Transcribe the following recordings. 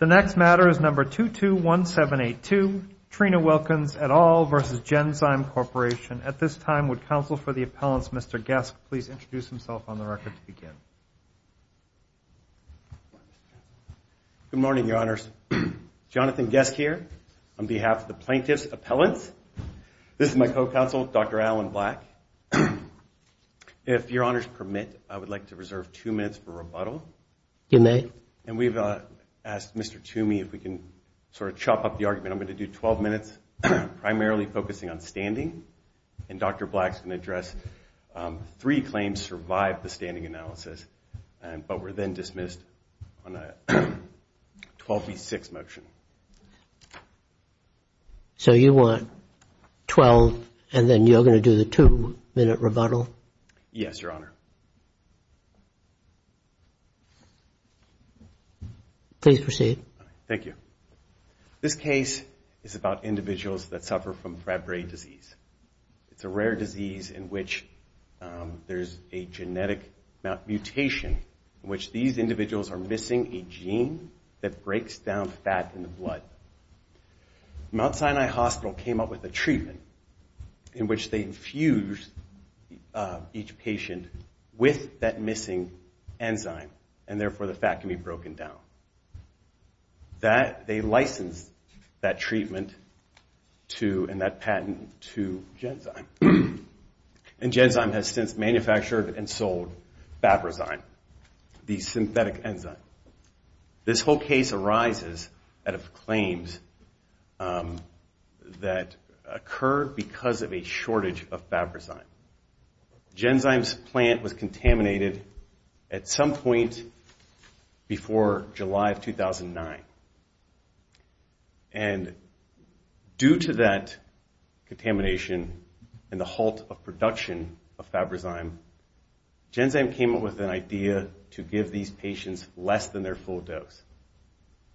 The next matter is number 221782, Trina Wilkins et al. v. Genzyme Corporation. At this time, would counsel for the appellants, Mr. Geske, please introduce himself on the record to begin. Good morning, Your Honors. Jonathan Geske here on behalf of the plaintiff's appellants. This is my co-counsel, Dr. Alan Black. If Your Honors permit, I would like to reserve two minutes for rebuttal. You may. And we've asked Mr. Toomey if we can sort of chop up the argument. I'm going to do 12 minutes, primarily focusing on standing. And Dr. Black's going to address three claims survived the standing analysis, but were then dismissed on a 12 v. 6 motion. So you want 12, and then you're going to do the two-minute rebuttal? Yes, Your Honor. Please proceed. Thank you. This case is about individuals that suffer from Fabry disease. It's a rare disease in which there's a genetic mutation in which these individuals are missing a gene that breaks down fat in the blood. Mount Sinai Hospital came up with a treatment in which they infuse each patient with that missing enzyme. And therefore, the fat can be broken down. They licensed that treatment and that patent to Genzyme. And Genzyme has since manufactured and sold Fabryzyme, the synthetic enzyme. This whole case arises out of claims that occur because of a shortage of Fabryzyme. Genzyme's plant was contaminated at some point before July of 2009. And due to that contamination and the halt of production of Fabryzyme, Genzyme came up with an idea to give these patients less than their full dose.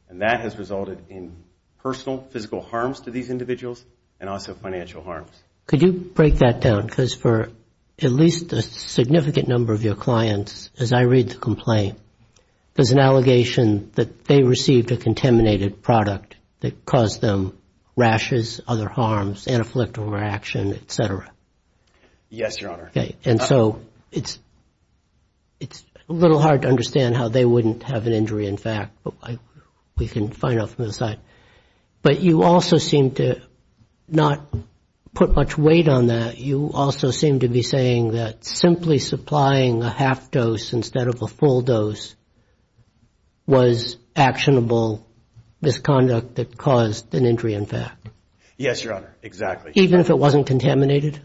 And that has resulted in personal physical harms to these individuals and also financial harms. Could you break that down? Because for at least a significant number of your clients, as I read the complaint, there's an allegation that they received a contaminated product that caused them rashes, other harms, anaphylactic reaction, et cetera. Yes, Your Honor. And so it's a little hard to understand how they wouldn't have an injury, in fact. We can find out from the site. But you also seem to not put much weight on that. You also seem to be saying that simply supplying a half dose instead of a full dose was actionable misconduct that caused an injury, in fact. Yes, Your Honor, exactly. Even if it wasn't contaminated?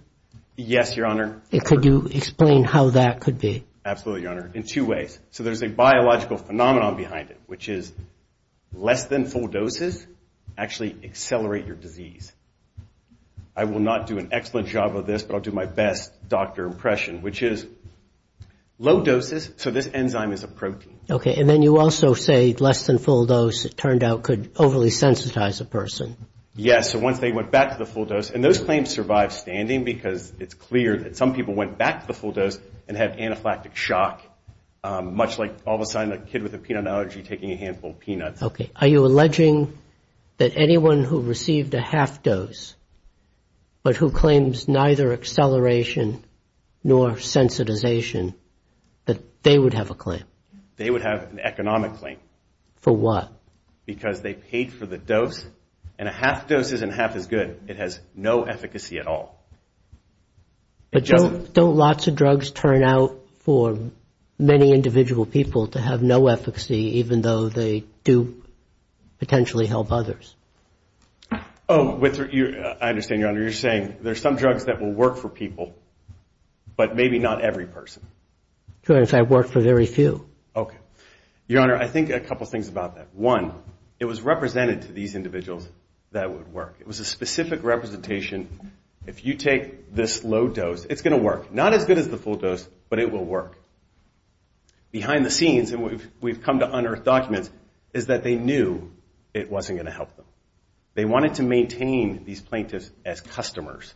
Yes, Your Honor. Could you explain how that could be? Absolutely, Your Honor, in two ways. So there's a biological phenomenon behind it, which is less than full doses actually accelerate your disease. I will not do an excellent job of this, but I'll do my best doctor impression, which is low doses, so this enzyme is a protein. Okay, and then you also say less than full dose, it turned out, could overly sensitize a person. Yes, so once they went back to the full dose, and those claims survive standing because it's clear that some people went back to the full dose and had anaphylactic shock, much like all of a sudden a kid with a peanut allergy taking a handful of peanuts. Okay, are you alleging that anyone who received a half dose, but who claims neither acceleration nor sensitization, that they would have a claim? They would have an economic claim. For what? Because they paid for the dose, and a half dose isn't half as good. It has no efficacy at all. But don't lots of drugs turn out for many individual people to have no efficacy, even though they do potentially help others? Oh, I understand, Your Honor. You're saying there's some drugs that will work for people, but maybe not every person. Your Honor, I've worked for very few. Okay. Your Honor, I think a couple things about that. One, it was represented to these individuals that it would work. It was a specific representation. If you take this low dose, it's going to work. Not as good as the full dose, but it will work. Behind the scenes, and we've come to unearth documents, is that they knew it wasn't going to help them. They wanted to maintain these plaintiffs as customers.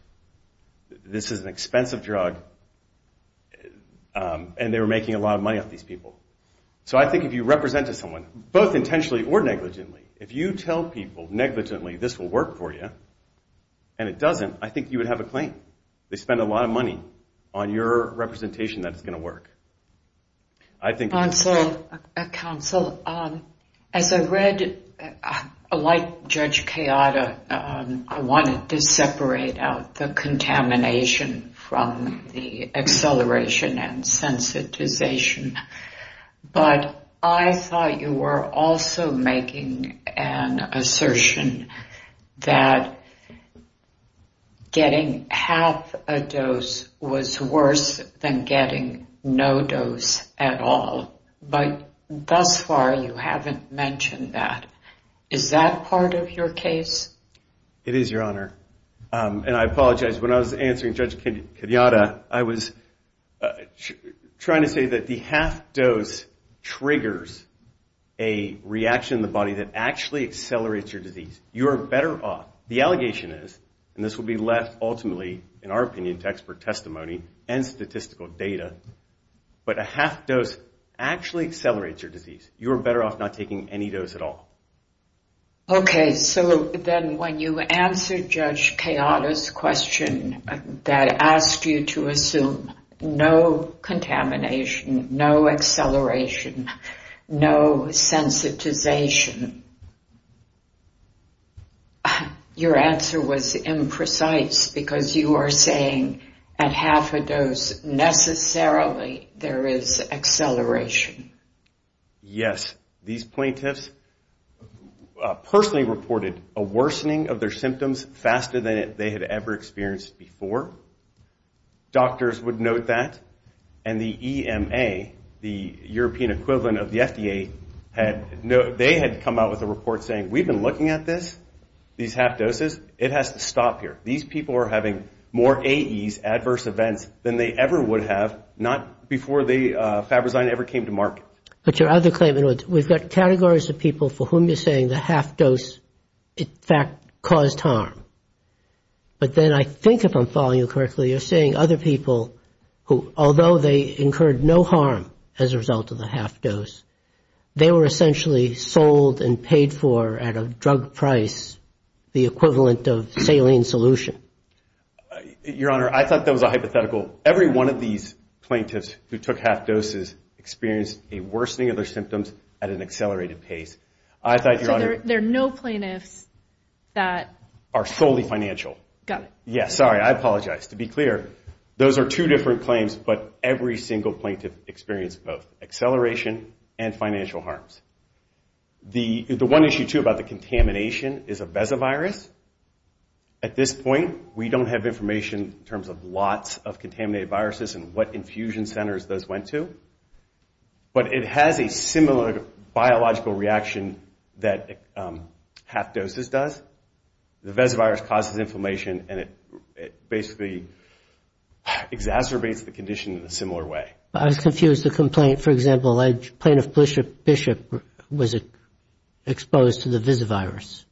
This is an expensive drug, and they were making a lot of money off these people. So I think if you represent to someone, both intentionally or negligently, if you tell people negligently this will work for you and it doesn't, I think you would have a claim. They spend a lot of money on your representation that it's going to work. Counsel, as I read, like Judge Kayada, I wanted to separate out the contamination from the acceleration and sensitization. But I thought you were also making an assertion that getting half a dose was worse than getting no dose at all. But thus far, you haven't mentioned that. Is that part of your case? It is, Your Honor. And I apologize, when I was answering Judge Kayada, I was trying to say that the half dose triggers a reaction in the body that actually accelerates your disease. You are better off, the allegation is, and this will be left ultimately, in our opinion, to expert testimony and statistical data, but a half dose actually accelerates your disease. You are better off not taking any dose at all. Okay. So then when you answered Judge Kayada's question that asked you to assume no contamination, no acceleration, no sensitization, your answer was imprecise because you are saying at half a dose necessarily there is acceleration. Yes. These plaintiffs personally reported a worsening of their symptoms faster than they had ever experienced before. Doctors would note that. And the EMA, the European equivalent of the FDA, they had come out with a report saying we've been looking at this, these half doses, it has to stop here. These people are having more AEs, adverse events, than they ever would have, not before Fabrizion ever came to market. But your other claim, we've got categories of people for whom you're saying the half dose, in fact, caused harm. But then I think if I'm following you correctly, you're saying other people who, although they incurred no harm as a result of the half dose, they were essentially sold and paid for at a drug price, the equivalent of saline solution. Your Honor, I thought that was a hypothetical. Every one of these plaintiffs who took half doses experienced a worsening of their symptoms at an accelerated pace. I thought your Honor. So there are no plaintiffs that. Are solely financial. Got it. Sorry, I apologize. To be clear, those are two different claims, but every single plaintiff experienced both acceleration and financial harms. The one issue, too, about the contamination is a VESA virus. At this point, we don't have information in terms of lots of contaminated viruses and what infusion centers those went to. But it has a similar biological reaction that half doses does. The VESA virus causes inflammation and it basically exacerbates the condition in a similar way. I was confused. The complaint, for example, plaintiff Bishop was exposed to the VESA virus,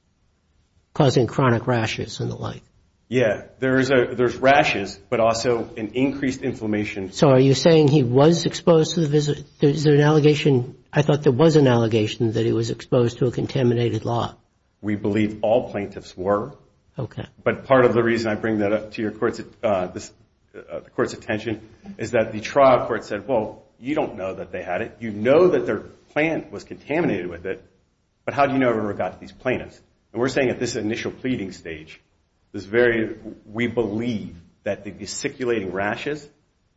causing chronic rashes and the like. Yeah. There's rashes, but also an increased inflammation. So are you saying he was exposed to the VESA? Is there an allegation? I thought there was an allegation that he was exposed to a contaminated law. We believe all plaintiffs were. Okay. But part of the reason I bring that up to the Court's attention is that the trial court said, well, you don't know that they had it. You know that their plant was contaminated with it, but how do you know in regard to these plaintiffs? And we're saying at this initial pleading stage, we believe that the circulating rashes,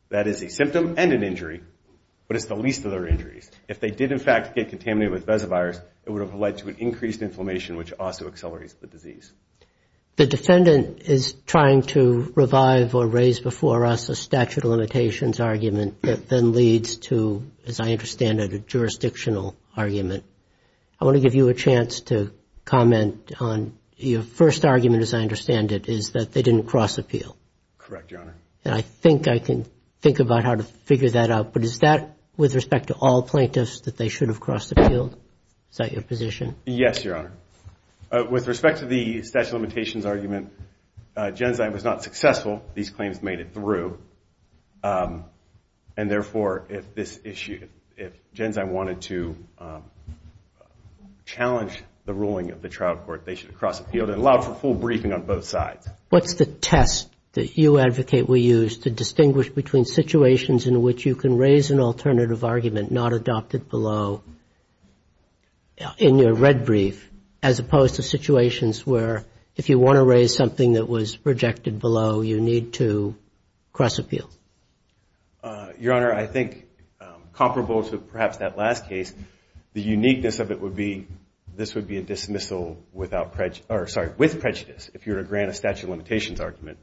that is a symptom and an injury, but it's the least of their injuries. If they did, in fact, get contaminated with VESA virus, it would have led to an increased inflammation, which also accelerates the disease. The defendant is trying to revive or raise before us a statute of limitations argument that then leads to, as I understand it, a jurisdictional argument. I want to give you a chance to comment on your first argument, as I understand it, is that they didn't cross appeal. Correct, Your Honor. And I think I can think about how to figure that out, but is that with respect to all plaintiffs that they should have crossed appeal? Is that your position? Yes, Your Honor. With respect to the statute of limitations argument, Genzyme was not successful. These claims made it through, and therefore if Genzyme wanted to challenge the ruling of the trial court, they should have crossed appeal and allowed for full briefing on both sides. What's the test that you advocate we use to distinguish between situations in which you can raise an alternative argument not adopted below in your red brief, as opposed to situations where if you want to raise something that was rejected below, you need to cross appeal? Your Honor, I think comparable to perhaps that last case, the uniqueness of it would be this would be a dismissal with prejudice, if you were to grant a statute of limitations argument.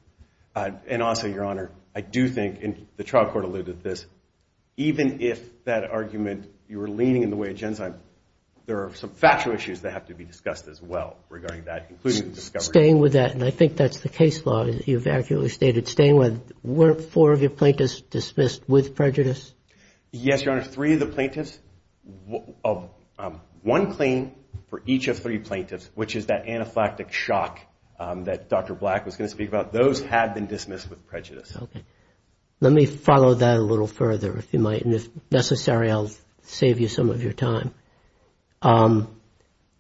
And also, Your Honor, I do think, and the trial court alluded to this, even if that argument, you were leaning in the way of Genzyme, there are some factual issues that have to be discussed as well regarding that, including the discovery. Staying with that, and I think that's the case law that you've accurately stated, staying with weren't four of your plaintiffs dismissed with prejudice? Yes, Your Honor. Three of the plaintiffs, one claim for each of three plaintiffs, which is that anaphylactic shock that Dr. Black was going to speak about, those had been dismissed with prejudice. Okay. Let me follow that a little further, if you might, and if necessary I'll save you some of your time.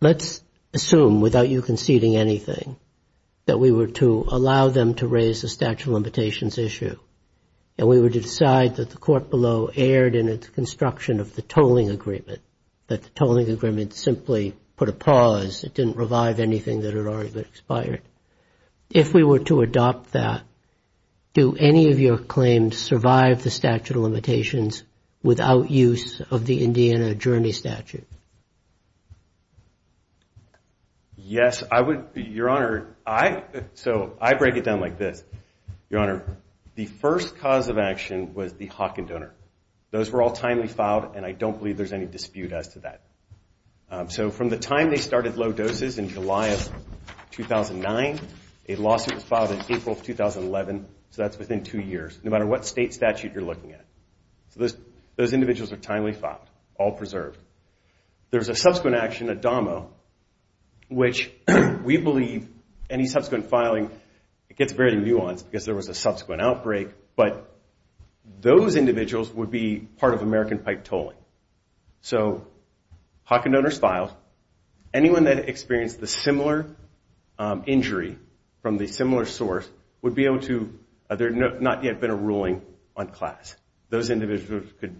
Let's assume, without you conceding anything, that we were to allow them to raise a statute of limitations issue, and we were to decide that the court below erred in its construction of the tolling agreement, that the tolling agreement simply put a pause, it didn't revive anything that had already been expired. If we were to adopt that, do any of your claims survive the statute of limitations issue? Yes. Your Honor, so I break it down like this. Your Honor, the first cause of action was the Hawkin donor. Those were all timely filed, and I don't believe there's any dispute as to that. So from the time they started low doses in July of 2009, a lawsuit was filed in April of 2011, so that's within two years, no matter what state statute you're looking at. Those individuals are timely filed, all preserved. There's a subsequent action, a DOMO, which we believe any subsequent filing, it gets very nuanced because there was a subsequent outbreak, but those individuals would be part of American pipe tolling. So Hawkin donors filed. Anyone that experienced a similar injury from the similar source would be able to, there had not yet been a ruling on class. Those individuals could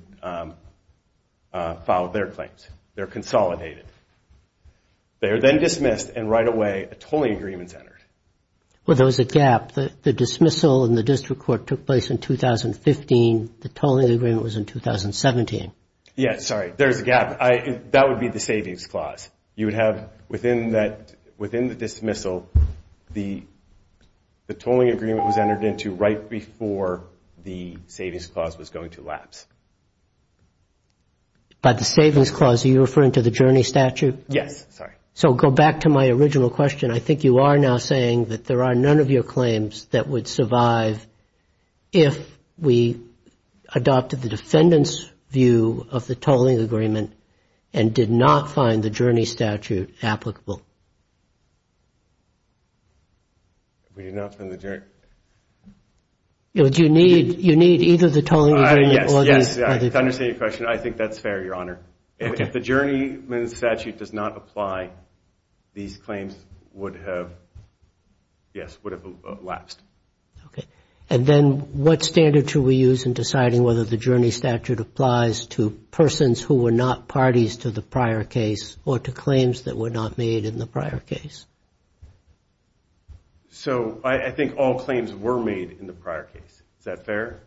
file their claims. They're consolidated. They are then dismissed, and right away a tolling agreement is entered. Well, there was a gap. The dismissal in the district court took place in 2015. The tolling agreement was in 2017. Yes, sorry. There's a gap. That would be the savings clause. You would have, within the dismissal, the tolling agreement was entered into right before the savings clause was going to lapse. By the savings clause, are you referring to the journey statute? Yes, sorry. So go back to my original question. I think you are now saying that there are none of your claims that would survive if we adopted the defendant's view of the tolling agreement and did not find the journey statute applicable. We did not find the journey. You need either the tolling agreement or the tolling agreement. Yes, I understand your question. I think that's fair, Your Honor. If the journey statute does not apply, these claims would have, yes, would have lapsed. Okay. And then what standard should we use in deciding whether the journey statute applies to persons who were not parties to the prior case or to claims that were not made in the prior case? So I think all claims were made in the prior case. Is that fair?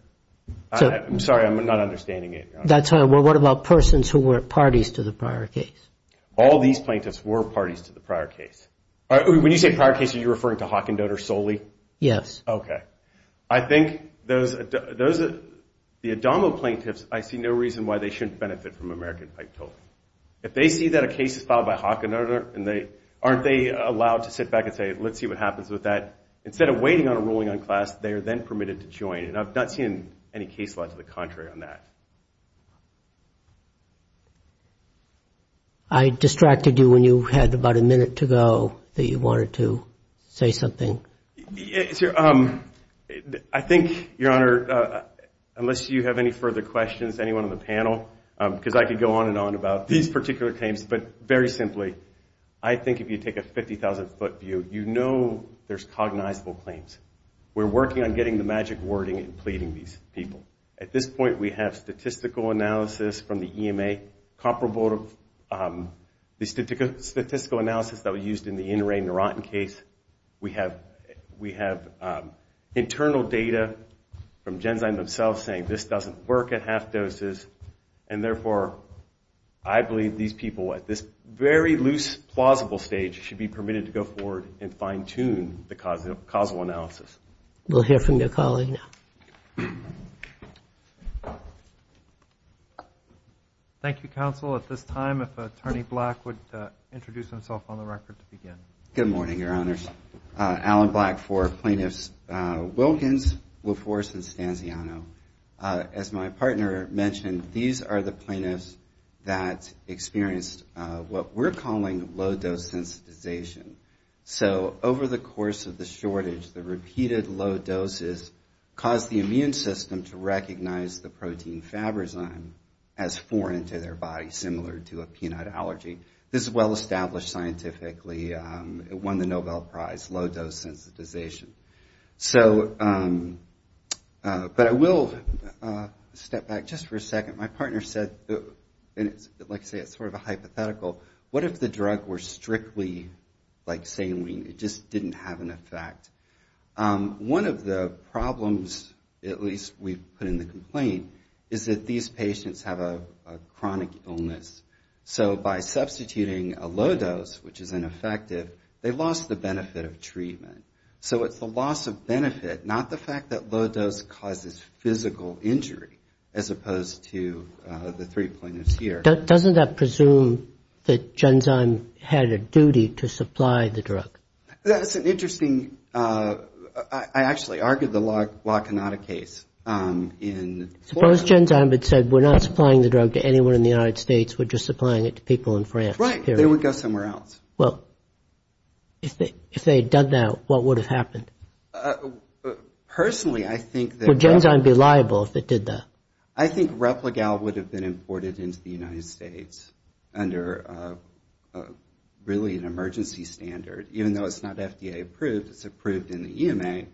I'm sorry. I'm not understanding it. That's all right. Well, what about persons who weren't parties to the prior case? All these plaintiffs were parties to the prior case. When you say prior case, are you referring to Hockendotter solely? Yes. Okay. I think the Adamo plaintiffs, I see no reason why they shouldn't benefit from American pipe tolling. If they see that a case is filed by Hockendotter and aren't they allowed to sit back and say, let's see what happens with that, instead of waiting on a ruling on class, they are then permitted to join. And I've not seen any case law to the contrary on that. I distracted you when you had about a minute to go that you wanted to say something. I think, Your Honor, unless you have any further questions, anyone on the panel, because I could go on and on about these particular claims, but very simply, I think if you take a 50,000-foot view, you know there's cognizable claims. We're working on getting the magic wording and pleading these people. At this point, we have statistical analysis from the EMA, comparable to the statistical analysis that was used in the in-ray Neurontin case. We have internal data from Genzyme themselves saying this doesn't work at half doses, and therefore I believe these people at this very loose, plausible stage should be permitted to go forward and fine-tune the causal analysis. We'll hear from your colleague now. Thank you. Thank you, Counsel. At this time, if Attorney Black would introduce himself on the record to begin. Good morning, Your Honors. Alan Black for Plaintiffs Wilkins, LaForce, and Stanziano. As my partner mentioned, these are the plaintiffs that experienced what we're calling low-dose sensitization. Over the course of the shortage, the repeated low doses caused the immune system to recognize the protein Fabrazyme as foreign to their body, similar to a peanut allergy. This is well-established scientifically. It won the Nobel Prize, low-dose sensitization. My partner said, like I say, it's sort of a hypothetical, what if the drug were strictly like saline, it just didn't have an effect? One of the problems, at least we've put in the complaint, is that these patients have a chronic illness. So by substituting a low dose, which is ineffective, they lost the benefit of treatment. So it's the loss of benefit, not the fact that low dose causes physical injury, as opposed to the three plaintiffs here. Doesn't that presume that Genzyme had a duty to supply the drug? That's an interesting, I actually argued the Wakanada case in Florida. Suppose Genzyme had said, we're not supplying the drug to anyone in the United States, we're just supplying it to people in France. Right, they would go somewhere else. Well, if they had done that, what would have happened? Personally, I think that... Would Genzyme be liable if it did that? I think RepliGal would have been imported into the United States under really an emergency standard. Even though it's not FDA approved, it's approved in the EMA.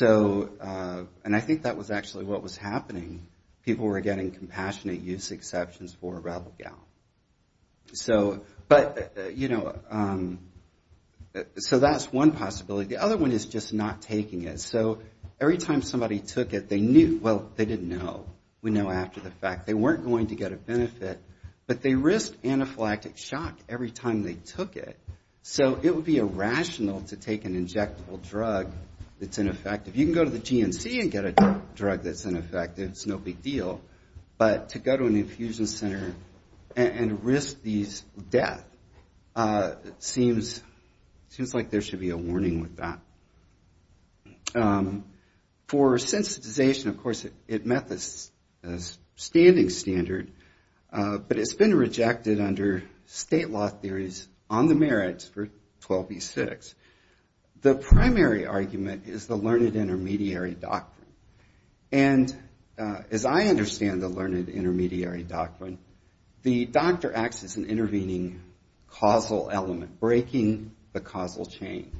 And I think that was actually what was happening. People were getting compassionate use exceptions for RepliGal. So, but, you know, so that's one possibility. The other one is just not taking it. So every time somebody took it, they knew, well, they didn't know. We know after the fact. They weren't going to get a benefit, but they risked anaphylactic shock every time they took it. So it would be irrational to take an injectable drug that's ineffective. You can go to the GNC and get a drug that's ineffective, it's no big deal. But to go to an infusion center and risk these deaths seems like there should be a warning with that. For sensitization, of course, it met the standing standard, but it's been rejected under state law theories on the merits for 12b6. The primary argument is the learned intermediary doctrine. And as I understand the learned intermediary doctrine, the doctor acts as an intervening causal element, breaking the causal chain.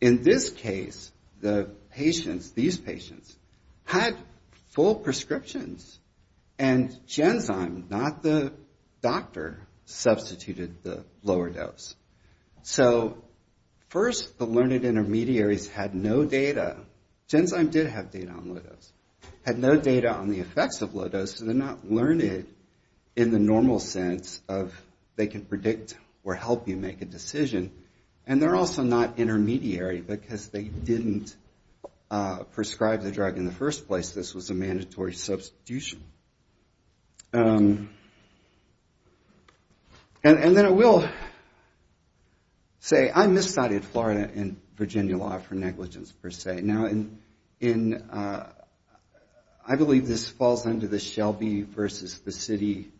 In this case, the patients, these patients, had full prescriptions and Genzyme, not the doctor, substituted the lower dose. So first, the learned intermediaries had no data. Genzyme did have data on low dose, had no data on the effects of low dose, so they're not learned in the normal sense of they can predict or help you make a decision. And they're also not intermediary because they didn't prescribe the drug in the first place. This was a mandatory substitution. And then I will say I misstudied Florida and Virginia law for negligence per se. And I believe this falls under the Shelby versus the city,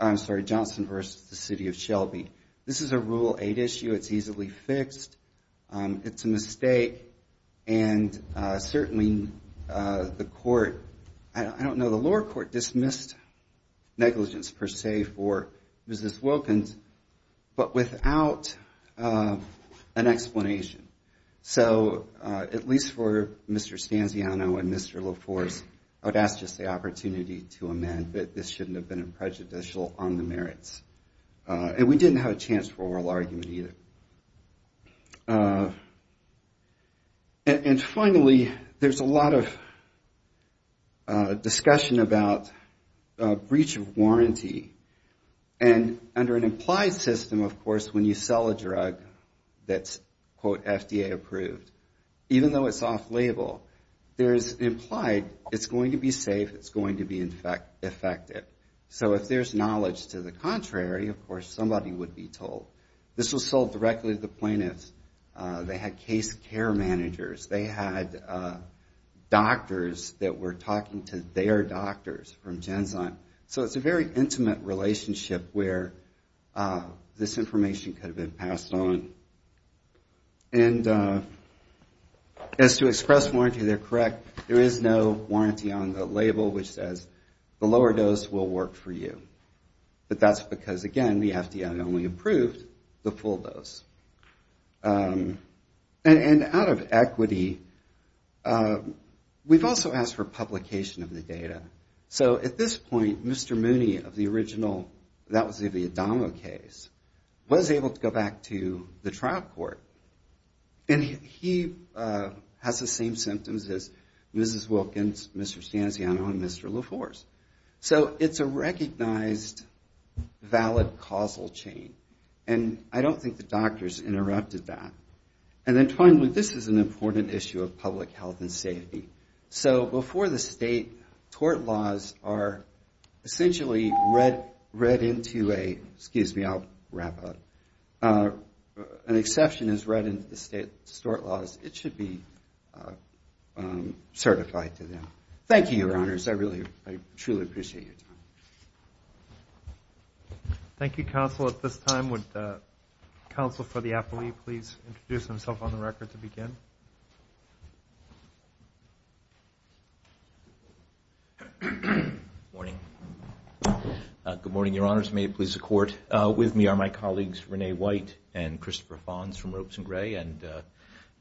I'm sorry, Johnson versus the city of Shelby. This is a Rule 8 issue. It's easily fixed. It's a mistake. And certainly the court, I don't know, the lower court dismissed negligence per se for Mrs. Wilkins, but without an explanation. So at least for Mr. Stanziano and Mr. LaForce, I would ask just the opportunity to amend that this shouldn't have been prejudicial on the merits. And we didn't have a chance for oral argument either. And finally, there's a lot of discussion about breach of warranty. And under an implied system, of course, when you sell a drug that's quote FDA approved, even though it's off label, it's going to be safe, it's going to be effective. So if there's knowledge to the contrary, of course, somebody would be told. This was sold directly to the plaintiffs. They had case care managers. They had doctors that were talking to their doctors from Genzyme. So it's a very intimate relationship where this information could have been passed on. And as to express warranty, they're correct. There is no warranty on the label which says the lower dose will work for you. But that's because, again, the FDA only approved the full dose. And out of equity, we've also asked for publication of the data. So at this point, Mr. Mooney of the original, that was the Adamo case, was able to go back to the trial court. And he has the same symptoms as Mrs. Wilkins, Mr. Stanziano, and Mr. LaForce. So it's a recognized valid causal chain. And I don't think the doctors interrupted that. And then finally, this is an important issue of public health and safety. So before the state, tort laws are essentially read into a... Excuse me, I'll wrap up. An exception is read into the state's tort laws. It should be certified to them. Thank you, Your Honors. I truly appreciate your time. Thank you, Counsel. At this time, would Counsel for the Appellee please introduce himself on the record to begin? Good morning. Good morning, Your Honors. May it please the Court. With me are my colleagues Renee White and Christopher Fonz from Ropes & Gray. And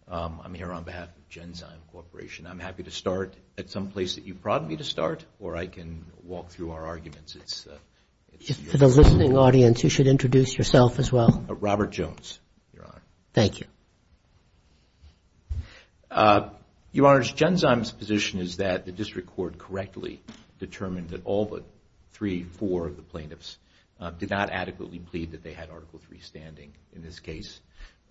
I'm here on behalf of Genzyme Corporation. I'm happy to start at some place that you prodded me to start, or I can walk through our arguments. For the listening audience, you should introduce yourself as well. Robert Jones, Your Honor. Thank you. Your Honors, Genzyme's position is that the District Court correctly determined that all but three, four of the plaintiffs did not adequately plead that they had Article III standing in this case.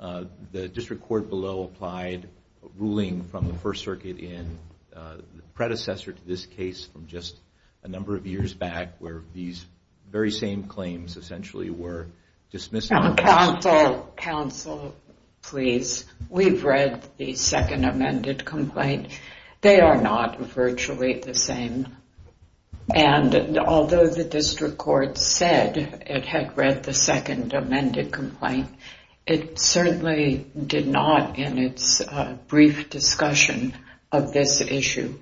The District Court below applied a ruling from the First Circuit in, the predecessor to this case from just a number of years back, where these very same claims essentially were dismissed. Counsel, please. We've read the second amended complaint. They are not virtually the same. Although the District Court said it had read the second amended complaint, it certainly did not, in its brief discussion of this issue,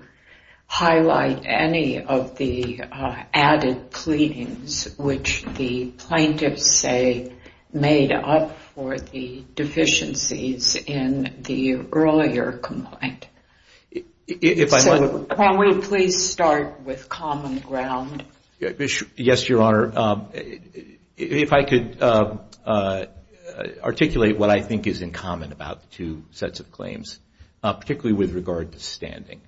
highlight any of the added pleadings, which the plaintiffs say made up for the deficiencies in the earlier complaint. Can we please start with common ground? Yes, Your Honor. If I could articulate what I think is in common about the two sets of claims, particularly with regard to standing.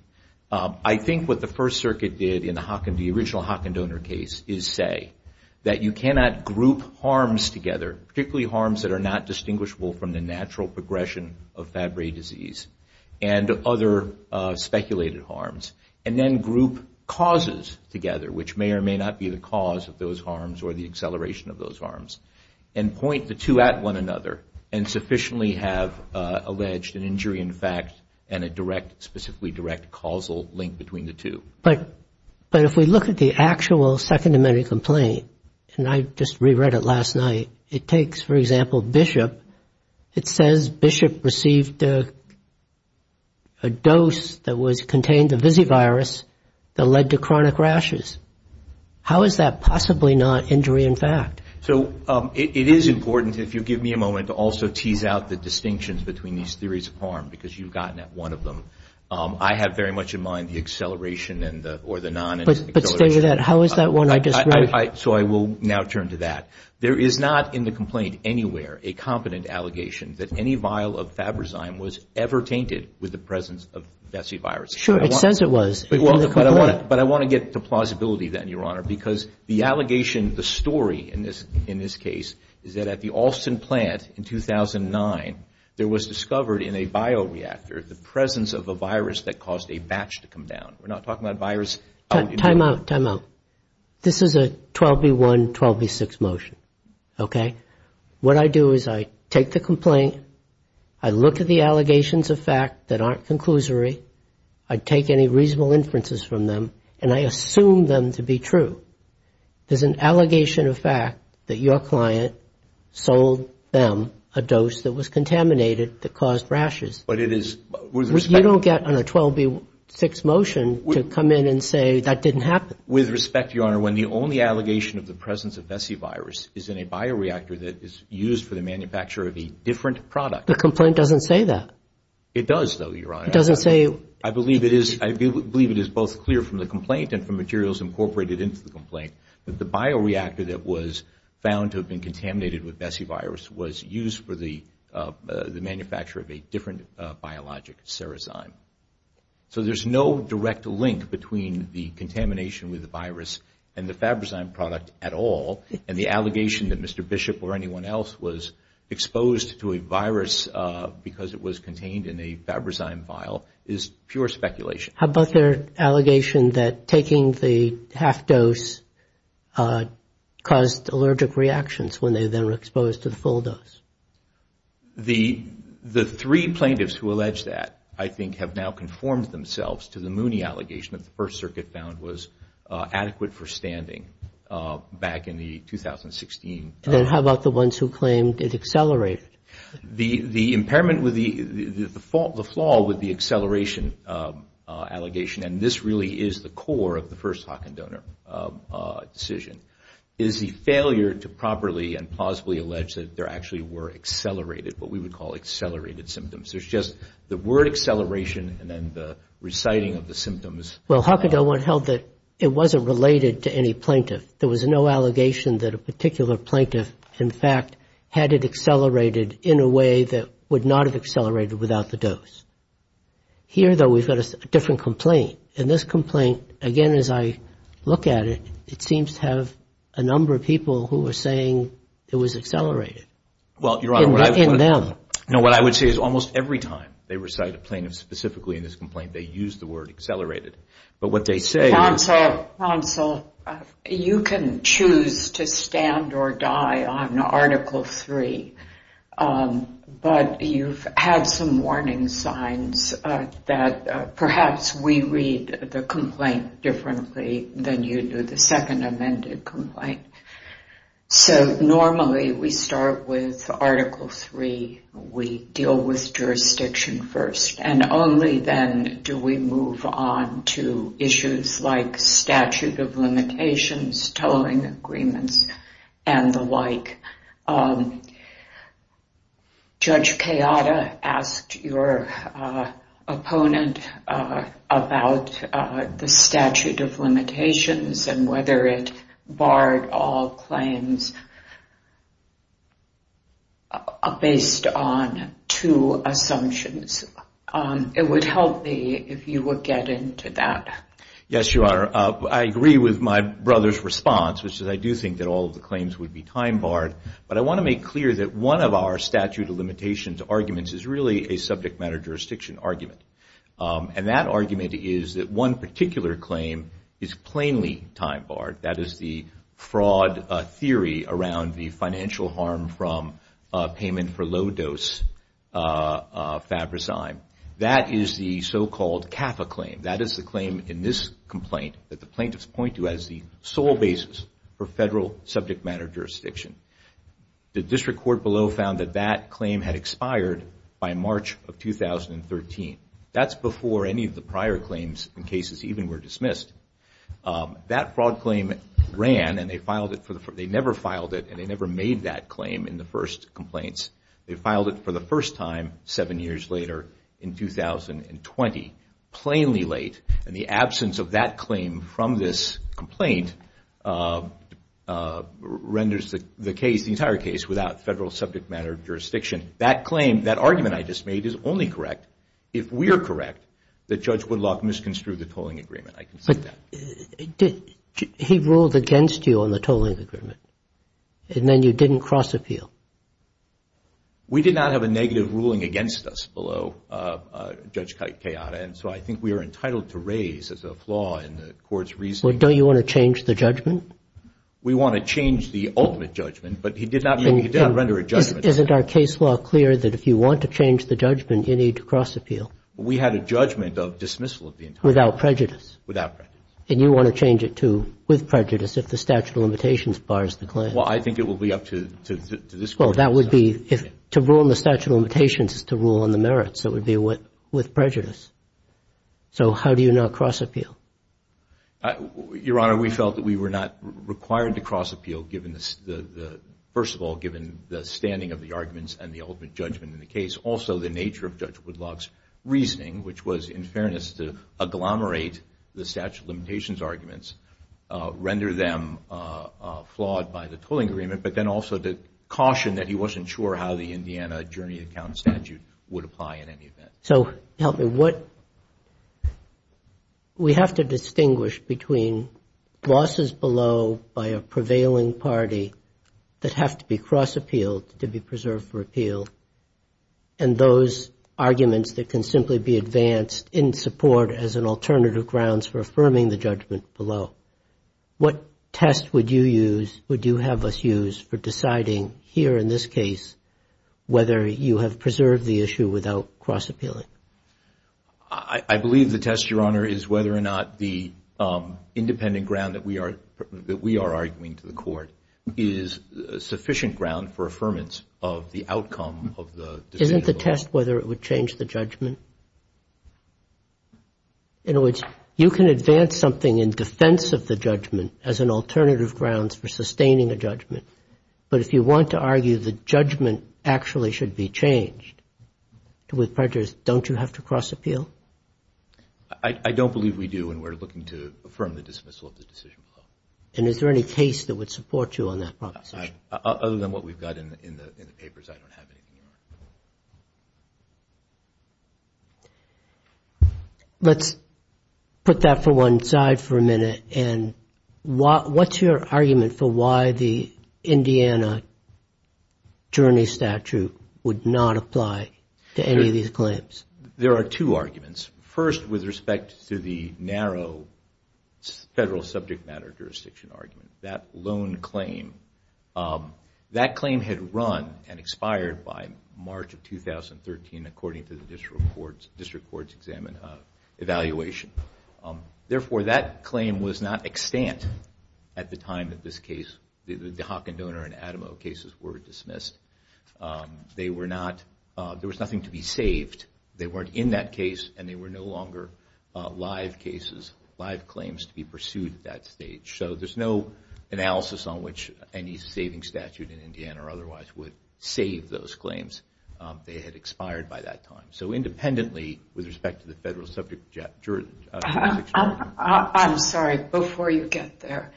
I think what the First Circuit did in the original Hockindonor case is say that you cannot group harms together, particularly harms that are not distinguishable from the natural progression of Fabry disease and other speculated harms, and then group causes together, which may or may not be the cause of those harms or the acceleration of those harms, and point the two at one another and sufficiently have alleged an injury in fact and a specifically direct causal link between the two. But if we look at the actual second amended complaint, and I just re-read it last night, it takes, for example, Bishop. It says Bishop received a dose that contained a visivirus that led to chronic rashes. How is that possibly not injury in fact? So it is important if you give me a moment to also tease out the distinctions between these theories of harm, because you've gotten at one of them. I have very much in mind the acceleration or the non-acceleration. So I will now turn to that. There is not in the complaint anywhere a competent allegation that any vial of Fabryzyme was ever tainted with the presence of visivirus. But I want to get to plausibility then, Your Honor, because the allegation, the story in this case, is that at the Alston plant in 2009, there was discovered in a bioreactor the presence of a virus that caused a batch to come down. This is a 12B1, 12B6 motion. What I do is I take the complaint, I look at the allegations of fact that aren't conclusory, I take any reasonable inferences from them, and I assume them to be true. There is an allegation of fact that your client sold them a dose that was contaminated that caused rashes. You don't get on a 12B6 motion to come in and say that didn't happen. With respect, Your Honor, when the only allegation of the presence of visivirus is in a bioreactor that is used for the manufacture of a different product. The complaint doesn't say that. It does, though, Your Honor. I believe it is both clear from the complaint and from materials incorporated into the complaint that the bioreactor that was found to have been contaminated with vesivirus was used for the manufacture of a different biologic, cerezyme. So there's no direct link between the contamination with the virus and the Fabrizyme product at all, and the allegation that Mr. Bishop or anyone else was exposed to a virus because it was contained in a Fabrizyme vial is pure speculation. How about their allegation that taking the half dose caused allergic reactions when they then were exposed to the full dose? The three plaintiffs who allege that, I think, have now conformed themselves to the Mooney allegation that the First Circuit found was adequate for standing back in 2016. Then how about the ones who claimed it accelerated? The impairment, the flaw with the acceleration allegation, and this really is the core of the first Hockendonor decision, is the failure to properly and plausibly allege that there actually were accelerated, what we would call accelerated symptoms. There's just the word acceleration and then the reciting of the symptoms. Well, Hockendonor held that it wasn't related to any plaintiff. There was no allegation that a particular plaintiff, in fact, had it accelerated in a way that would not have accelerated without the dose. Here, though, we've got a different complaint, and this complaint, again, as I look at it, it seems to have a number of people who are saying it was accelerated in them. Well, Your Honor, what I would say is almost every time they recite a plaintiff, specifically in this complaint, they use the word accelerated. Counsel, you can choose to stand or die on Article 3, but you've had some warning signs that perhaps we read the complaint differently than you do the second amended complaint. So normally we start with Article 3, we deal with jurisdiction first, and only then do we move on to issues like statute of limitations, tolling agreements, and the like. Judge Kayada asked your opponent about the statute of limitations, and whether it barred all claims based on two assumptions. It would help me if you would get into that. Yes, Your Honor. I agree with my brother's response, which is I do think that all of the claims would be time barred, but I want to make clear that one of our statute of limitations arguments is really a subject matter jurisdiction argument, and that argument is that one particular claim is plainly time barred. That is the fraud theory around the financial harm from payment for low-dose Fabrazyme. That is the so-called CAFA claim. That is the claim in this complaint that the plaintiffs point to as the sole basis for federal subject matter jurisdiction. The district court below found that that claim had expired by March of 2013. That's before any of the prior claims and cases even were dismissed. That fraud claim ran, and they never filed it, and they never made that claim in the first complaints. They filed it for the first time seven years later in 2020, plainly late, and the absence of that claim from this complaint renders the case, the entire case, without federal subject matter jurisdiction. That claim, that argument I just made is only correct if we are correct that Judge Woodlock misconstrued the tolling agreement. I can say that. He ruled against you on the tolling agreement, and then you didn't cross-appeal. We did not have a negative ruling against us below Judge Keanu, and so I think we are entitled to raise as a flaw in the court's reasoning. Well, don't you want to change the judgment? We want to change the ultimate judgment, but he did not render a judgment. Isn't our case law clear that if you want to change the judgment, you need to cross-appeal? We had a judgment of dismissal of the entire claim. Without prejudice? Without prejudice. And you want to change it with prejudice if the statute of limitations bars the claim? Well, I think it will be up to this Court. Well, that would be, to rule in the statute of limitations is to rule in the merits. It would be with prejudice. So how do you not cross-appeal? Your Honor, we felt that we were not required to cross-appeal, first of all, given the standing of the arguments and the ultimate judgment in the case. Also, the nature of Judge Woodlock's reasoning, which was, in fairness, to agglomerate the statute of limitations arguments, render them flawed by the tolling agreement, but then also to caution that he wasn't sure how the Indiana journey account statute would apply in any event. So help me. We have to distinguish between losses below by a prevailing party that have to be cross-appealed to be preserved for appeal and those arguments that can simply be advanced in support as an alternative grounds for affirming the judgment below. What test would you use, would you have us use for deciding here in this case whether you have preserved the issue without cross-appealing? I believe the test, Your Honor, is whether or not the independent ground that we are arguing to the Court is sufficient ground for affirmance of the outcome of the decision. Isn't the test whether it would change the judgment? In other words, you can advance something in defense of the judgment as an alternative grounds for sustaining a judgment, but if you want to argue the judgment actually should be changed with prejudice, don't you have to cross-appeal? I don't believe we do, and we're looking to affirm the dismissal of the decision below. And is there any case that would support you on that proposition? Other than what we've got in the papers, I don't have any. Let's put that for one side for a minute, and what's your argument for why the Indiana journey statute would not apply to any of these claims? There are two arguments. First, with respect to the narrow federal subject matter jurisdiction argument, that loan claim, that claim had run and expired by March of 2013, according to the district court's examination. Therefore, that claim was not extant at the time that this case, the Haakon Donor and Adamo cases were dismissed. There was nothing to be saved. They weren't in that case, and they were no longer live claims to be pursued at that stage. So there's no analysis on which any saving statute in Indiana or otherwise would save those claims. They had expired by that time. So independently, with respect to the federal subject jurisdiction. I'm sorry, before you get there.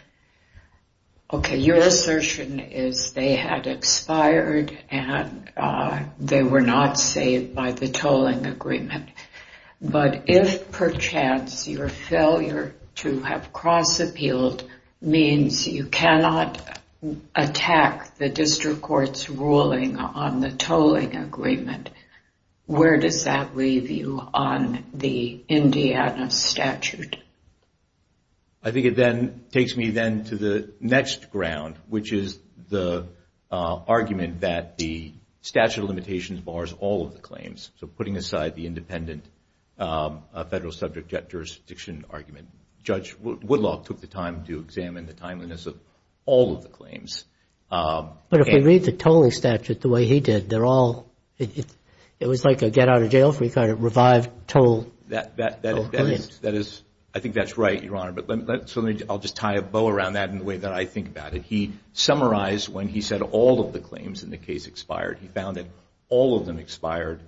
Okay, your assertion is they had expired and they were not saved by the tolling agreement. But if perchance your failure to have cross-appealed means you cannot attack the district court's ruling on the tolling agreement, where does that leave you on the Indiana statute? I think it then takes me then to the next ground, which is the argument that the statute of limitations bars all of the claims. So putting aside the independent federal subject jurisdiction argument, Judge Woodlock took the time to examine the timeliness of all of the claims. But if we read the tolling statute the way he did, it was like a get-out-of-jail-free kind of revived toll claim. I think that's right, Your Honor, but I'll just tie a bow around that in the way that I think about it. He summarized when he said all of the claims in the case expired. He found that all of them expired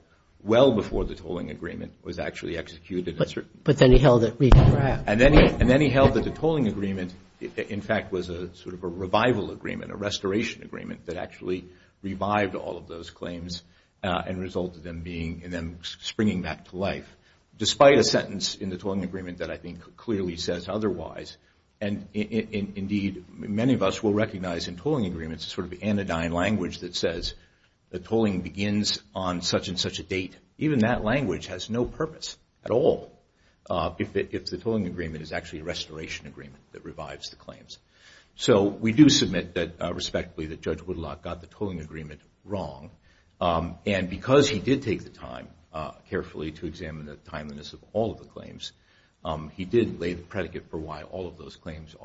well before the tolling agreement was actually executed. But then he held that the tolling agreement, in fact, was a sort of a revival agreement, a restoration agreement that actually revived all of those claims and resulted in them springing back to life, despite a sentence in the tolling agreement that I think clearly says otherwise. Indeed, many of us will recognize in tolling agreements a sort of anodyne language that says the tolling begins on such and such a date. Even that language has no purpose at all if the tolling agreement is actually a restoration agreement that revives the claims. So we do submit that, respectively, that Judge Woodlock got the tolling agreement wrong. And because he did take the time carefully to examine the timeliness of all of the claims, he did lay the predicate for why all of those claims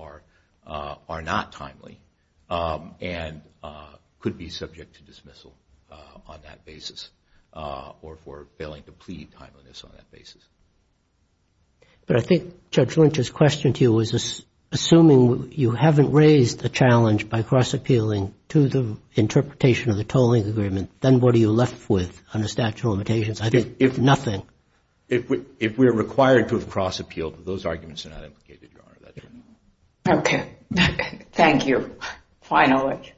are not timely and could be subject to dismissal on that basis or for failing to plead timeliness on that basis. But I think Judge Lynch's question to you was assuming you haven't raised the challenge by cross-appealing to the interpretation of the tolling agreement, then what are you left with under statute of limitations? I think nothing. If we are required to have cross-appealed, those arguments are not implicated, Your Honor. Okay. Thank you. Finally.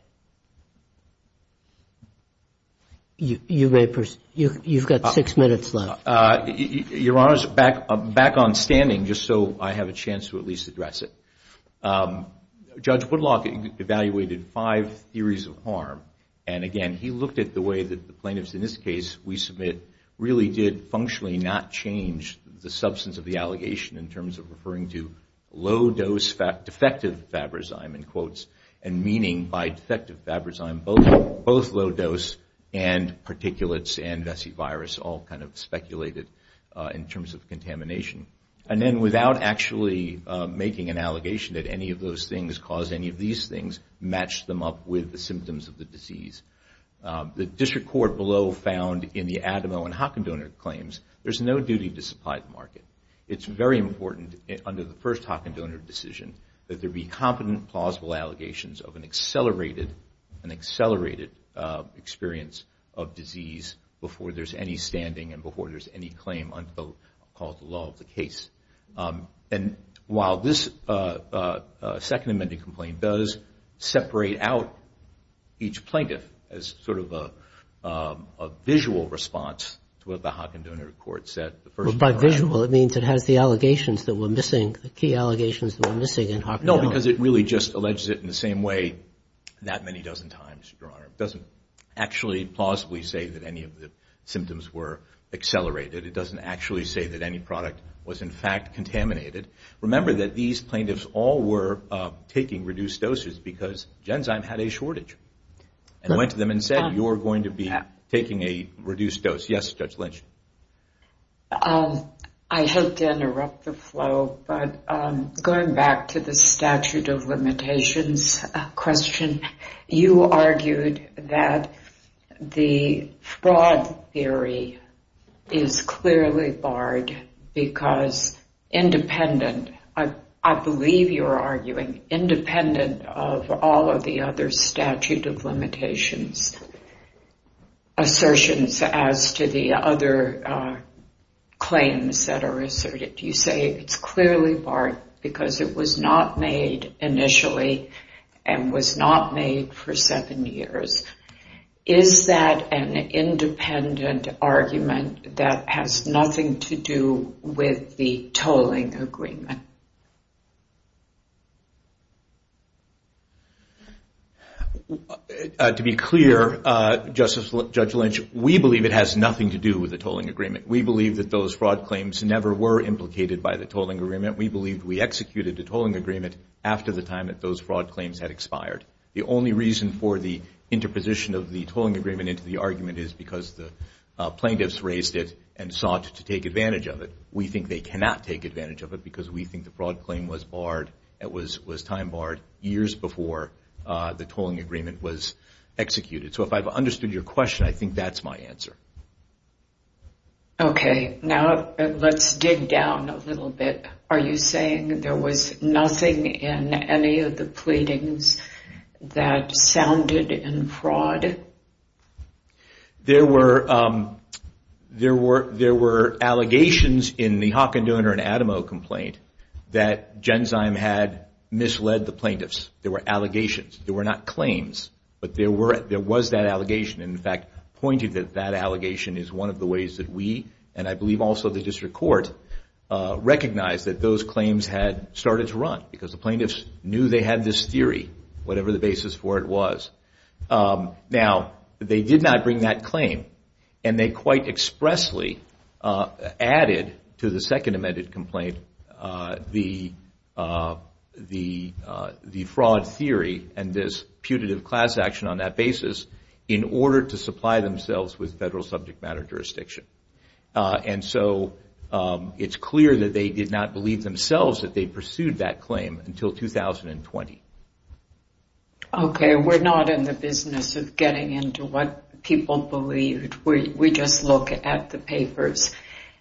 You've got six minutes left. Your Honor, back on standing, just so I have a chance to at least address it. Judge Woodlock evaluated five theories of harm, and again, he looked at the way that the plaintiffs in this case we submit really did functionally not change the substance of the allegation in terms of referring to low-dose defective Fabrazyme, in quotes, and meaning by defective Fabrazyme, both low-dose and particulates and vesivirus all kind of speculated in terms of contamination. And then without actually making an allegation that any of those things caused any of these things, matched them up with the symptoms of the disease. The district court below found in the Adamo and Hockendonor claims, there's no duty to supply the market. It's very important under the first Hockendonor decision that there be competent, plausible allegations of an accelerated experience of disease before there's any standing and before there's any claim under the law of the case. And while this Second Amendment complaint does separate out each plaintiff as sort of a visual response to what the Hockendonor court said. By visual, it means it has the allegations that were missing, the key allegations that were missing in Hockendonor. No, because it really just alleges it in the same way that many dozen times, Your Honor. It doesn't actually, plausibly say that any of the symptoms were accelerated. It doesn't actually say that any product was in fact contaminated. Remember that these plaintiffs all were taking reduced doses because Genzyme had a shortage. And went to them and said, you're going to be taking a reduced dose. Yes, Judge Lynch. I hate to interrupt the flow, but going back to the statute of limitations question, you argued that the fraud theory is clearly barred because independent, I believe you're arguing independent of all of the other statute of limitations assertions as to the other claims that are asserted. You say it's clearly not made initially and was not made for seven years. Is that an independent argument that has nothing to do with the tolling agreement? To be clear, Justice, Judge Lynch, we believe it has nothing to do with the tolling agreement. We believe that those fraud claims never were implicated by the tolling agreement. We believe we executed the tolling agreement after the time that those fraud claims had expired. The only reason for the interposition of the tolling agreement into the argument is because the plaintiffs raised it and sought to take advantage of it. We think they cannot take advantage of it because we think the fraud claim was barred, it was time barred years before the tolling agreement was issued. Now let's dig down a little bit. Are you saying there was nothing in any of the pleadings that sounded in fraud? There were allegations in the Hockendooner and Adamo complaint that Genzyme had misled the plaintiffs. There were allegations. There were not claims, but there was that allegation and in fact pointed that that allegation is one of the ways that we, and I believe also the district court, recognized that those claims had started to run because the plaintiffs knew they had this theory, whatever the basis for it was. Now they did not bring that claim and they quite expressly added to the second amended complaint the fraud theory and this putative class action on that basis in order to supply themselves with federal subject matter jurisdiction. And so it's clear that they did not believe themselves that they pursued that claim until 2020. Okay, we're not in the business of getting into what people believed. We just look at the papers.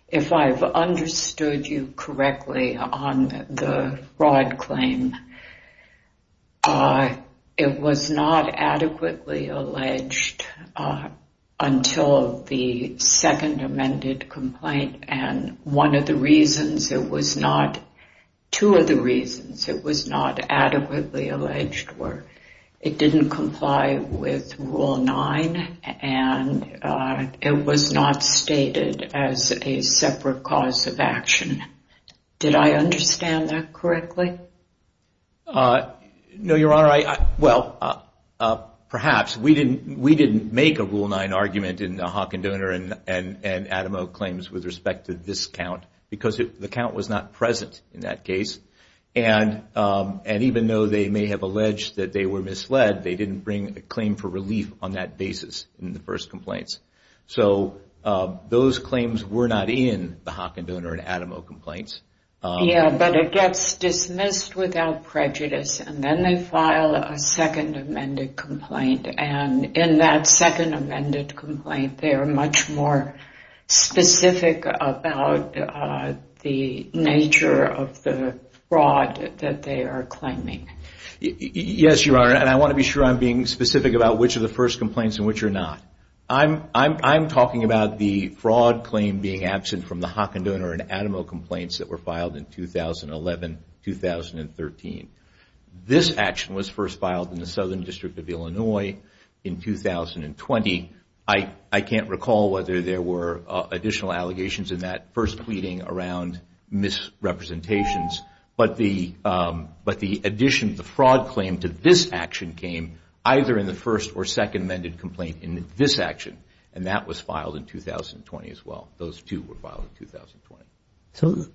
If I've understood you correctly on the fraud claim, it was not adequately alleged until the second amended complaint and one of the reasons, two of the reasons it was not adequately alleged were it didn't comply with a separate cause of action. Did I understand that correctly? No, Your Honor. Well, perhaps. We didn't make a Rule 9 argument in the Hawk and Donor and Adam Oak claims with respect to this count because the count was not present in that case. And even though they may have alleged that they were misled, they didn't bring a claim for relief on that basis in the first complaints. So those claims were not in the Hawk and Donor and Adam Oak complaints. Yeah, but it gets dismissed without prejudice and then they file a second amended complaint and in that second amended complaint they are much more specific about the nature of the fraud that they are claiming. Yes, Your Honor, and I want to be sure I'm being specific about which are the first complaints and which are not. I'm talking about the fraud claim being absent from the Hawk and Donor and Adam Oak complaints that were filed in 2011-2013. This action was first filed in the Southern District of Illinois in 2020. I can't recall whether there were additional allegations in that first representations, but the addition of the fraud claim to this action came either in the first or second amended complaint in this action and that was filed in 2020 as well. Those two were filed in 2020.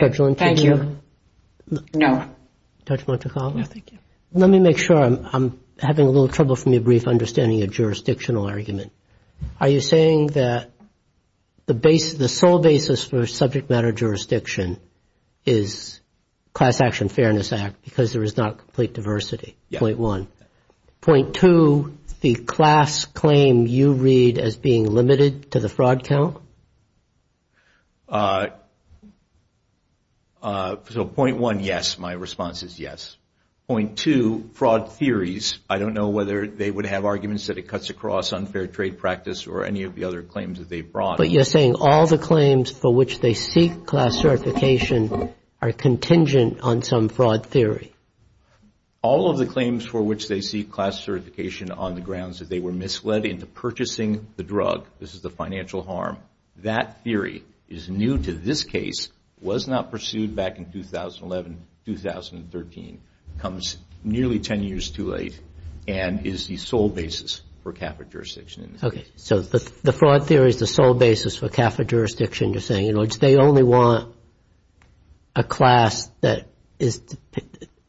Judge Linton? Thank you. No. Judge Montecarlo? No, thank you. Let me make sure I'm having a little trouble from your brief understanding of jurisdictional argument. Are you saying that the sole basis for subject matter jurisdiction is Class Action Fairness Act because there is not complete diversity, point one. Point two, the class claim you read as being limited to the fraud count? Point one, yes. My response is yes. Point two, fraud theories. I don't know whether they would have arguments that it cuts across unfair trade practice or any of the other claims that they brought. But you're saying all the claims for which they seek class certification are contingent on some fraud theory? All of the claims for which they seek class certification on the grounds that they were misled into purchasing the drug, this is the financial harm, that theory is new to this case, was not pursued back in 2011, 2013, comes nearly ten years too late and is the sole basis for CAFA jurisdiction. Okay. So the fraud theory is the sole basis for CAFA jurisdiction. You're saying they only want a class that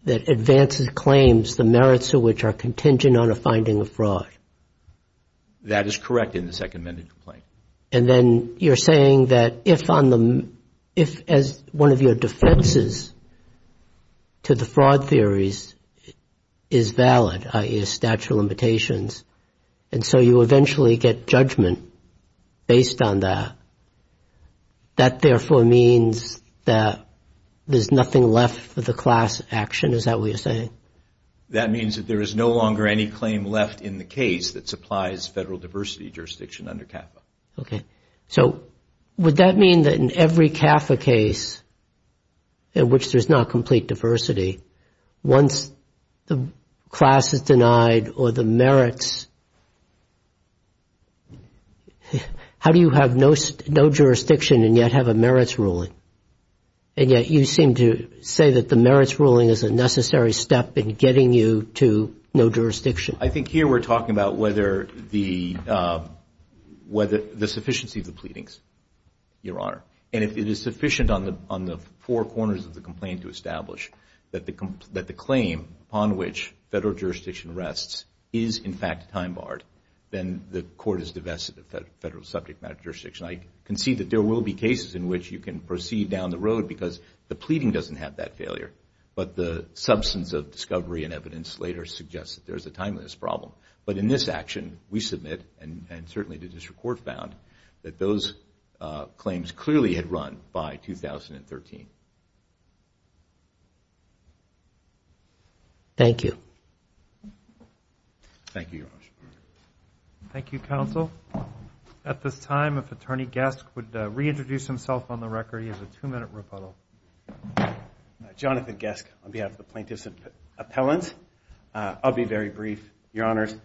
advances claims, the merits of which are contingent on a finding of fraud? That is correct in the Second Amendment complaint. And then you're saying that if one of your defenses to the fraud theories is valid, i.e. a statute of limitations, and so you eventually get judgment based on that, that therefore means that there's nothing left for the class action, is that what you're saying? That means that there is no longer any claim left in the case that supplies federal diversity jurisdiction under CAFA. Okay. So would that mean that in every CAFA case in which there's not complete diversity, once the class is denied or the merits, how do you have no jurisdiction and yet have a merits ruling? And yet you seem to say that the merits ruling is a necessary step in getting you to no jurisdiction. I think here we're talking about whether the sufficiency of the pleadings, Your Honor. And if it is sufficient on the four corners of the complaint to establish that the claim upon which federal jurisdiction rests is in fact time-barred, then the court is divested of federal subject matter jurisdiction. I concede that there will be cases in which you can proceed down the road because the pleading doesn't have that failure, but the substance of discovery and evidence later suggests that there's a timeliness problem. But in this action, we submit, and certainly the district court found, that those claims clearly had run by 2013. Thank you. Thank you, Your Honor. Thank you, counsel. At this time, if Attorney Gesk would reintroduce himself on the record, he has a two-minute rebuttal. Jonathan Gesk on behalf of the Plaintiffs' Appellant. I'll be very brief, Your Honors.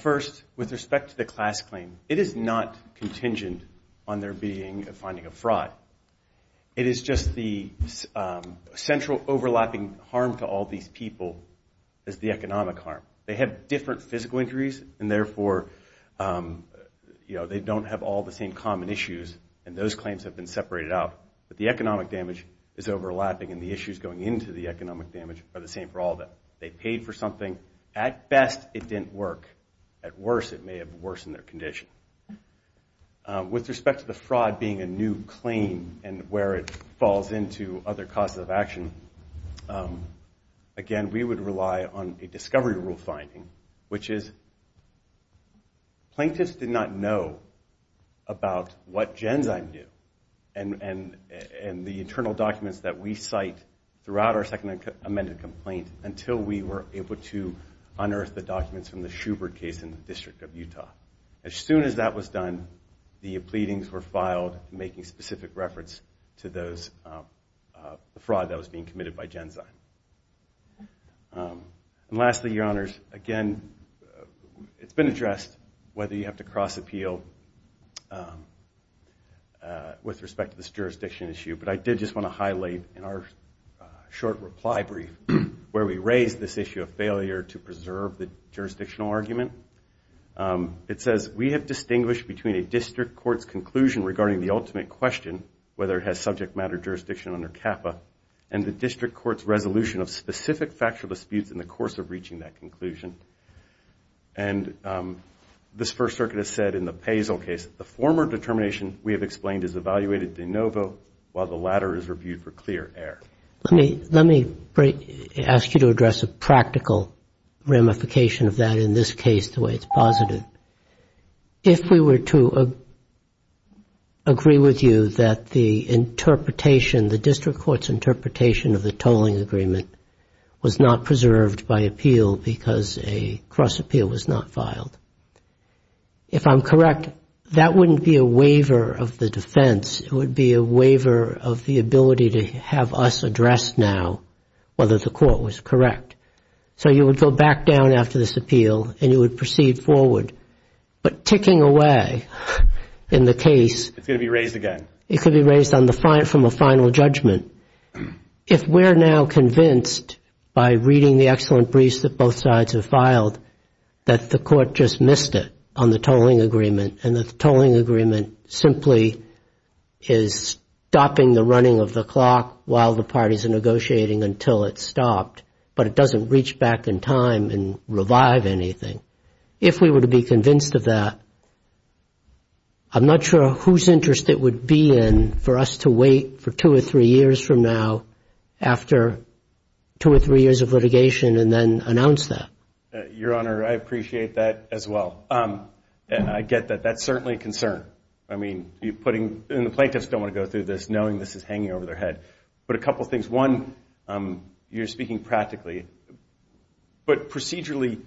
First, with respect to the class claim, it is not contingent on there being a finding of fraud. It is just the central overlapping harm to all these people is the economic harm. They have different physical injuries, and therefore they don't have all the same common issues, and those claims have been separated out. But the economic damage is overlapping, and the issues going into the economic damage are the same for all of them. They paid for something. At best, it didn't work. At worst, it may have worsened their condition. With respect to the fraud being a new claim and where it falls into other causes of action, again, we would rely on a discovery rule finding, which is plaintiffs did not know about what Genzyme do, and the internal documents that we cite throughout our second amended complaint until we were able to unearth the documents from the Shubert case in the District of Utah. As soon as that was done, the pleadings were filed making specific reference to the fraud that was being committed by Genzyme. And lastly, Your Honors, again, it's been addressed whether you have to cross-appeal with respect to this jurisdiction issue, but I did just want to highlight in our short reply brief where we raised this issue of failure to preserve the jurisdictional argument. It says, we have distinguished between a district court's conclusion regarding the ultimate question, whether it has subject matter jurisdiction under CAPPA, and the district court's resolution of specific factual disputes in the course of reaching that conclusion. And this First Circuit has said in the Paisel case, the former determination we have explained is evaluated de novo, while the latter is reviewed for clear error. Let me ask you to address a practical ramification of that in this case, the way it's posited. If we were to agree with you that the interpretation, the district court's interpretation of the tolling agreement was not preserved by appeal because a cross-appeal was not filed, if I'm correct, that wouldn't be a waiver of the defense. It would be a waiver of the ability to have us address now whether the court was correct. So you would go back down after this appeal and you would proceed forward. But ticking away in the case... It's going to be raised again. It could be raised from a final judgment. If we're now convinced by reading the excellent briefs that both sides have filed that the court just missed it on the tolling agreement and that the tolling agreement simply is stopping the running of the clock while the parties are negotiating until it's stopped, but it doesn't reach back in time and revive anything, if we were to be convinced of that, I'm not sure whose interest it would be in for us to wait for two or three years from now after two or three years of litigation and then announce that. Your Honor, I appreciate that as well. I get that. That's certainly a concern. I mean, the plaintiffs don't want to go through this knowing this is hanging over their head. But a couple of things. One, you're speaking practically. But procedurally,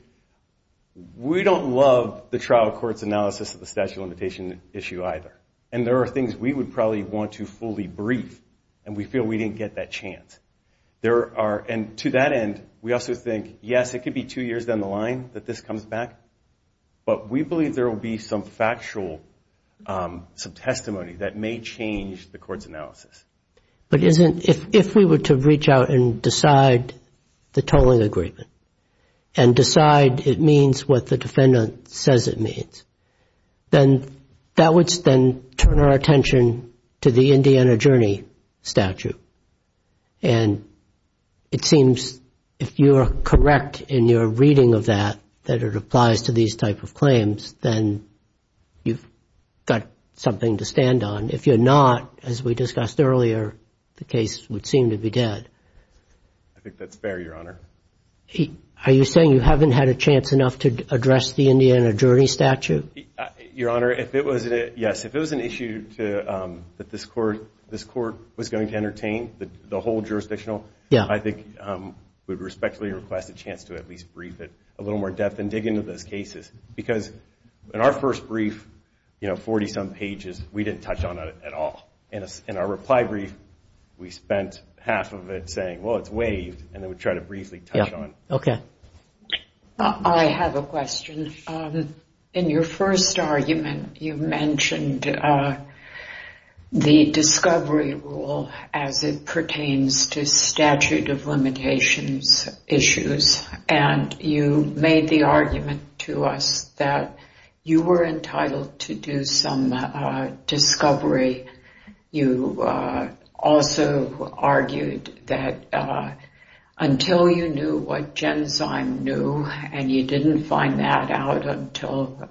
we don't love the trial court's analysis of the statute of limitations issue either. And there are things we would probably want to fully brief and we feel we didn't get that chance. And to that end, we also think, yes, it could be two years down the line that this comes back. But we believe there will be some factual, some testimony that may change the court's analysis. If we were to reach out and decide the tolling agreement and decide it means what the defendant says it means, then that would then turn our attention to the Indiana Journey statute. And it seems if you are correct in your reading of that, that it applies to these type of claims, then you've got something to stand on. And if you're not, as we discussed earlier, the case would seem to be dead. I think that's fair, Your Honor. Are you saying you haven't had a chance enough to address the Indiana Journey statute? Your Honor, if it was an issue that this court was going to entertain, the whole jurisdictional, I think we would respectfully request a chance to at least brief it a little more in depth and dig into those cases, because in our first brief, 40-some pages, we didn't touch on it at all. In our reply brief, we spent half of it saying, well, it's waived, and then we tried to briefly touch on it. I have a question. In your first argument, you mentioned the discovery rule as it pertains to statute of limitations issues, and you made the argument to us that you were entitled to do some discovery. You also argued that until you knew what Genzyme knew, and you didn't find that out until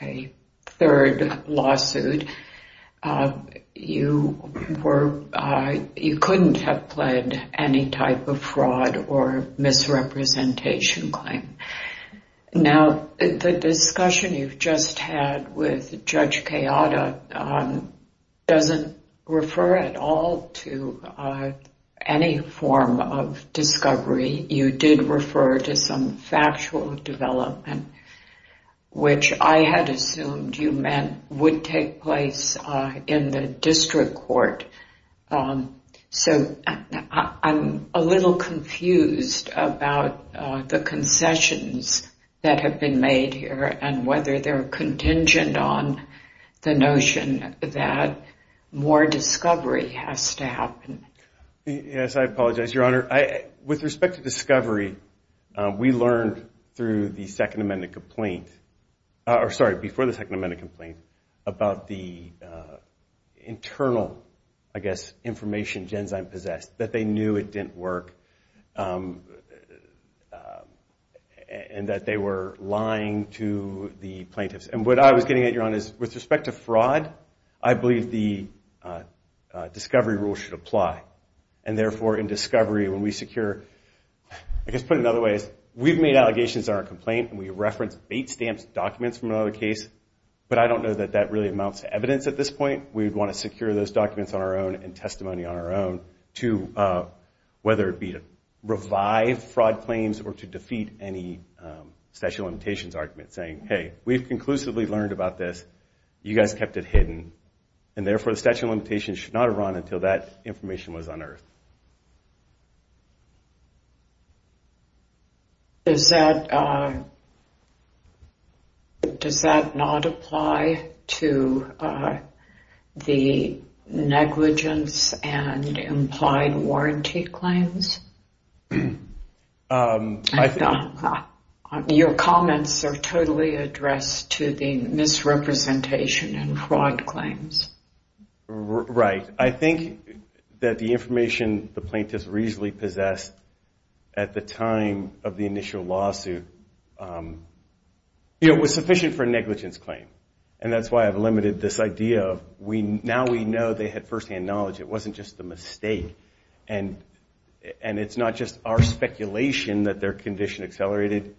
a third lawsuit, you couldn't have pled any type of fraud or misrepresentation. Now, the discussion you've just had with Judge Kayada doesn't refer at all to any form of discovery. You did refer to some factual development, which I had assumed you meant would take place in the district court. So I'm a little confused about the concessions that have been made here and whether they're contingent on the notion that more discovery has to happen. Yes, I apologize, Your Honor. With respect to discovery, we learned through the Second Amendment complaint, or sorry, before the Second Amendment complaint, about the internal, I guess, information Genzyme possessed, that they knew it didn't work and that they were lying to the plaintiffs. And what I was getting at, Your Honor, is with respect to fraud, I believe the discovery rule should apply. And therefore, in discovery, when we secure, I guess put it another way, we've made allegations in our complaint and we've referenced bait-stamped documents from another case, but I don't know that that really amounts to evidence at this point. We'd want to secure those documents on our own and testimony on our own, whether it be to revive fraud claims or to defeat any statute of limitations argument, saying, hey, we've conclusively learned about this, you guys kept it hidden, and therefore the statute of limitations should not have run until that information was unearthed. Does that not apply to the negligence and implied warranty claims? Your comments are totally addressed to the misrepresentation and fraud claims. Right. I think that the information the plaintiffs reasonably possessed at the time of the initial lawsuit was sufficient for a negligence claim. And that's why I've limited this idea of now we know they had firsthand knowledge. It wasn't just a mistake. And it's not just our speculation that their condition accelerated.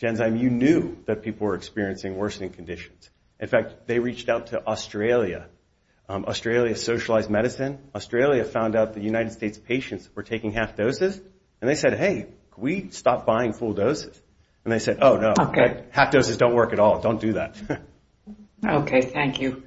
Genzyme, you knew that people were experiencing worsening conditions. In fact, they reached out to Australia, Australia Socialized Medicine. Australia found out the United States patients were taking half doses, and they said, hey, can we stop buying full doses? And they said, oh, no, half doses don't work at all. Don't do that. Okay. Thank you.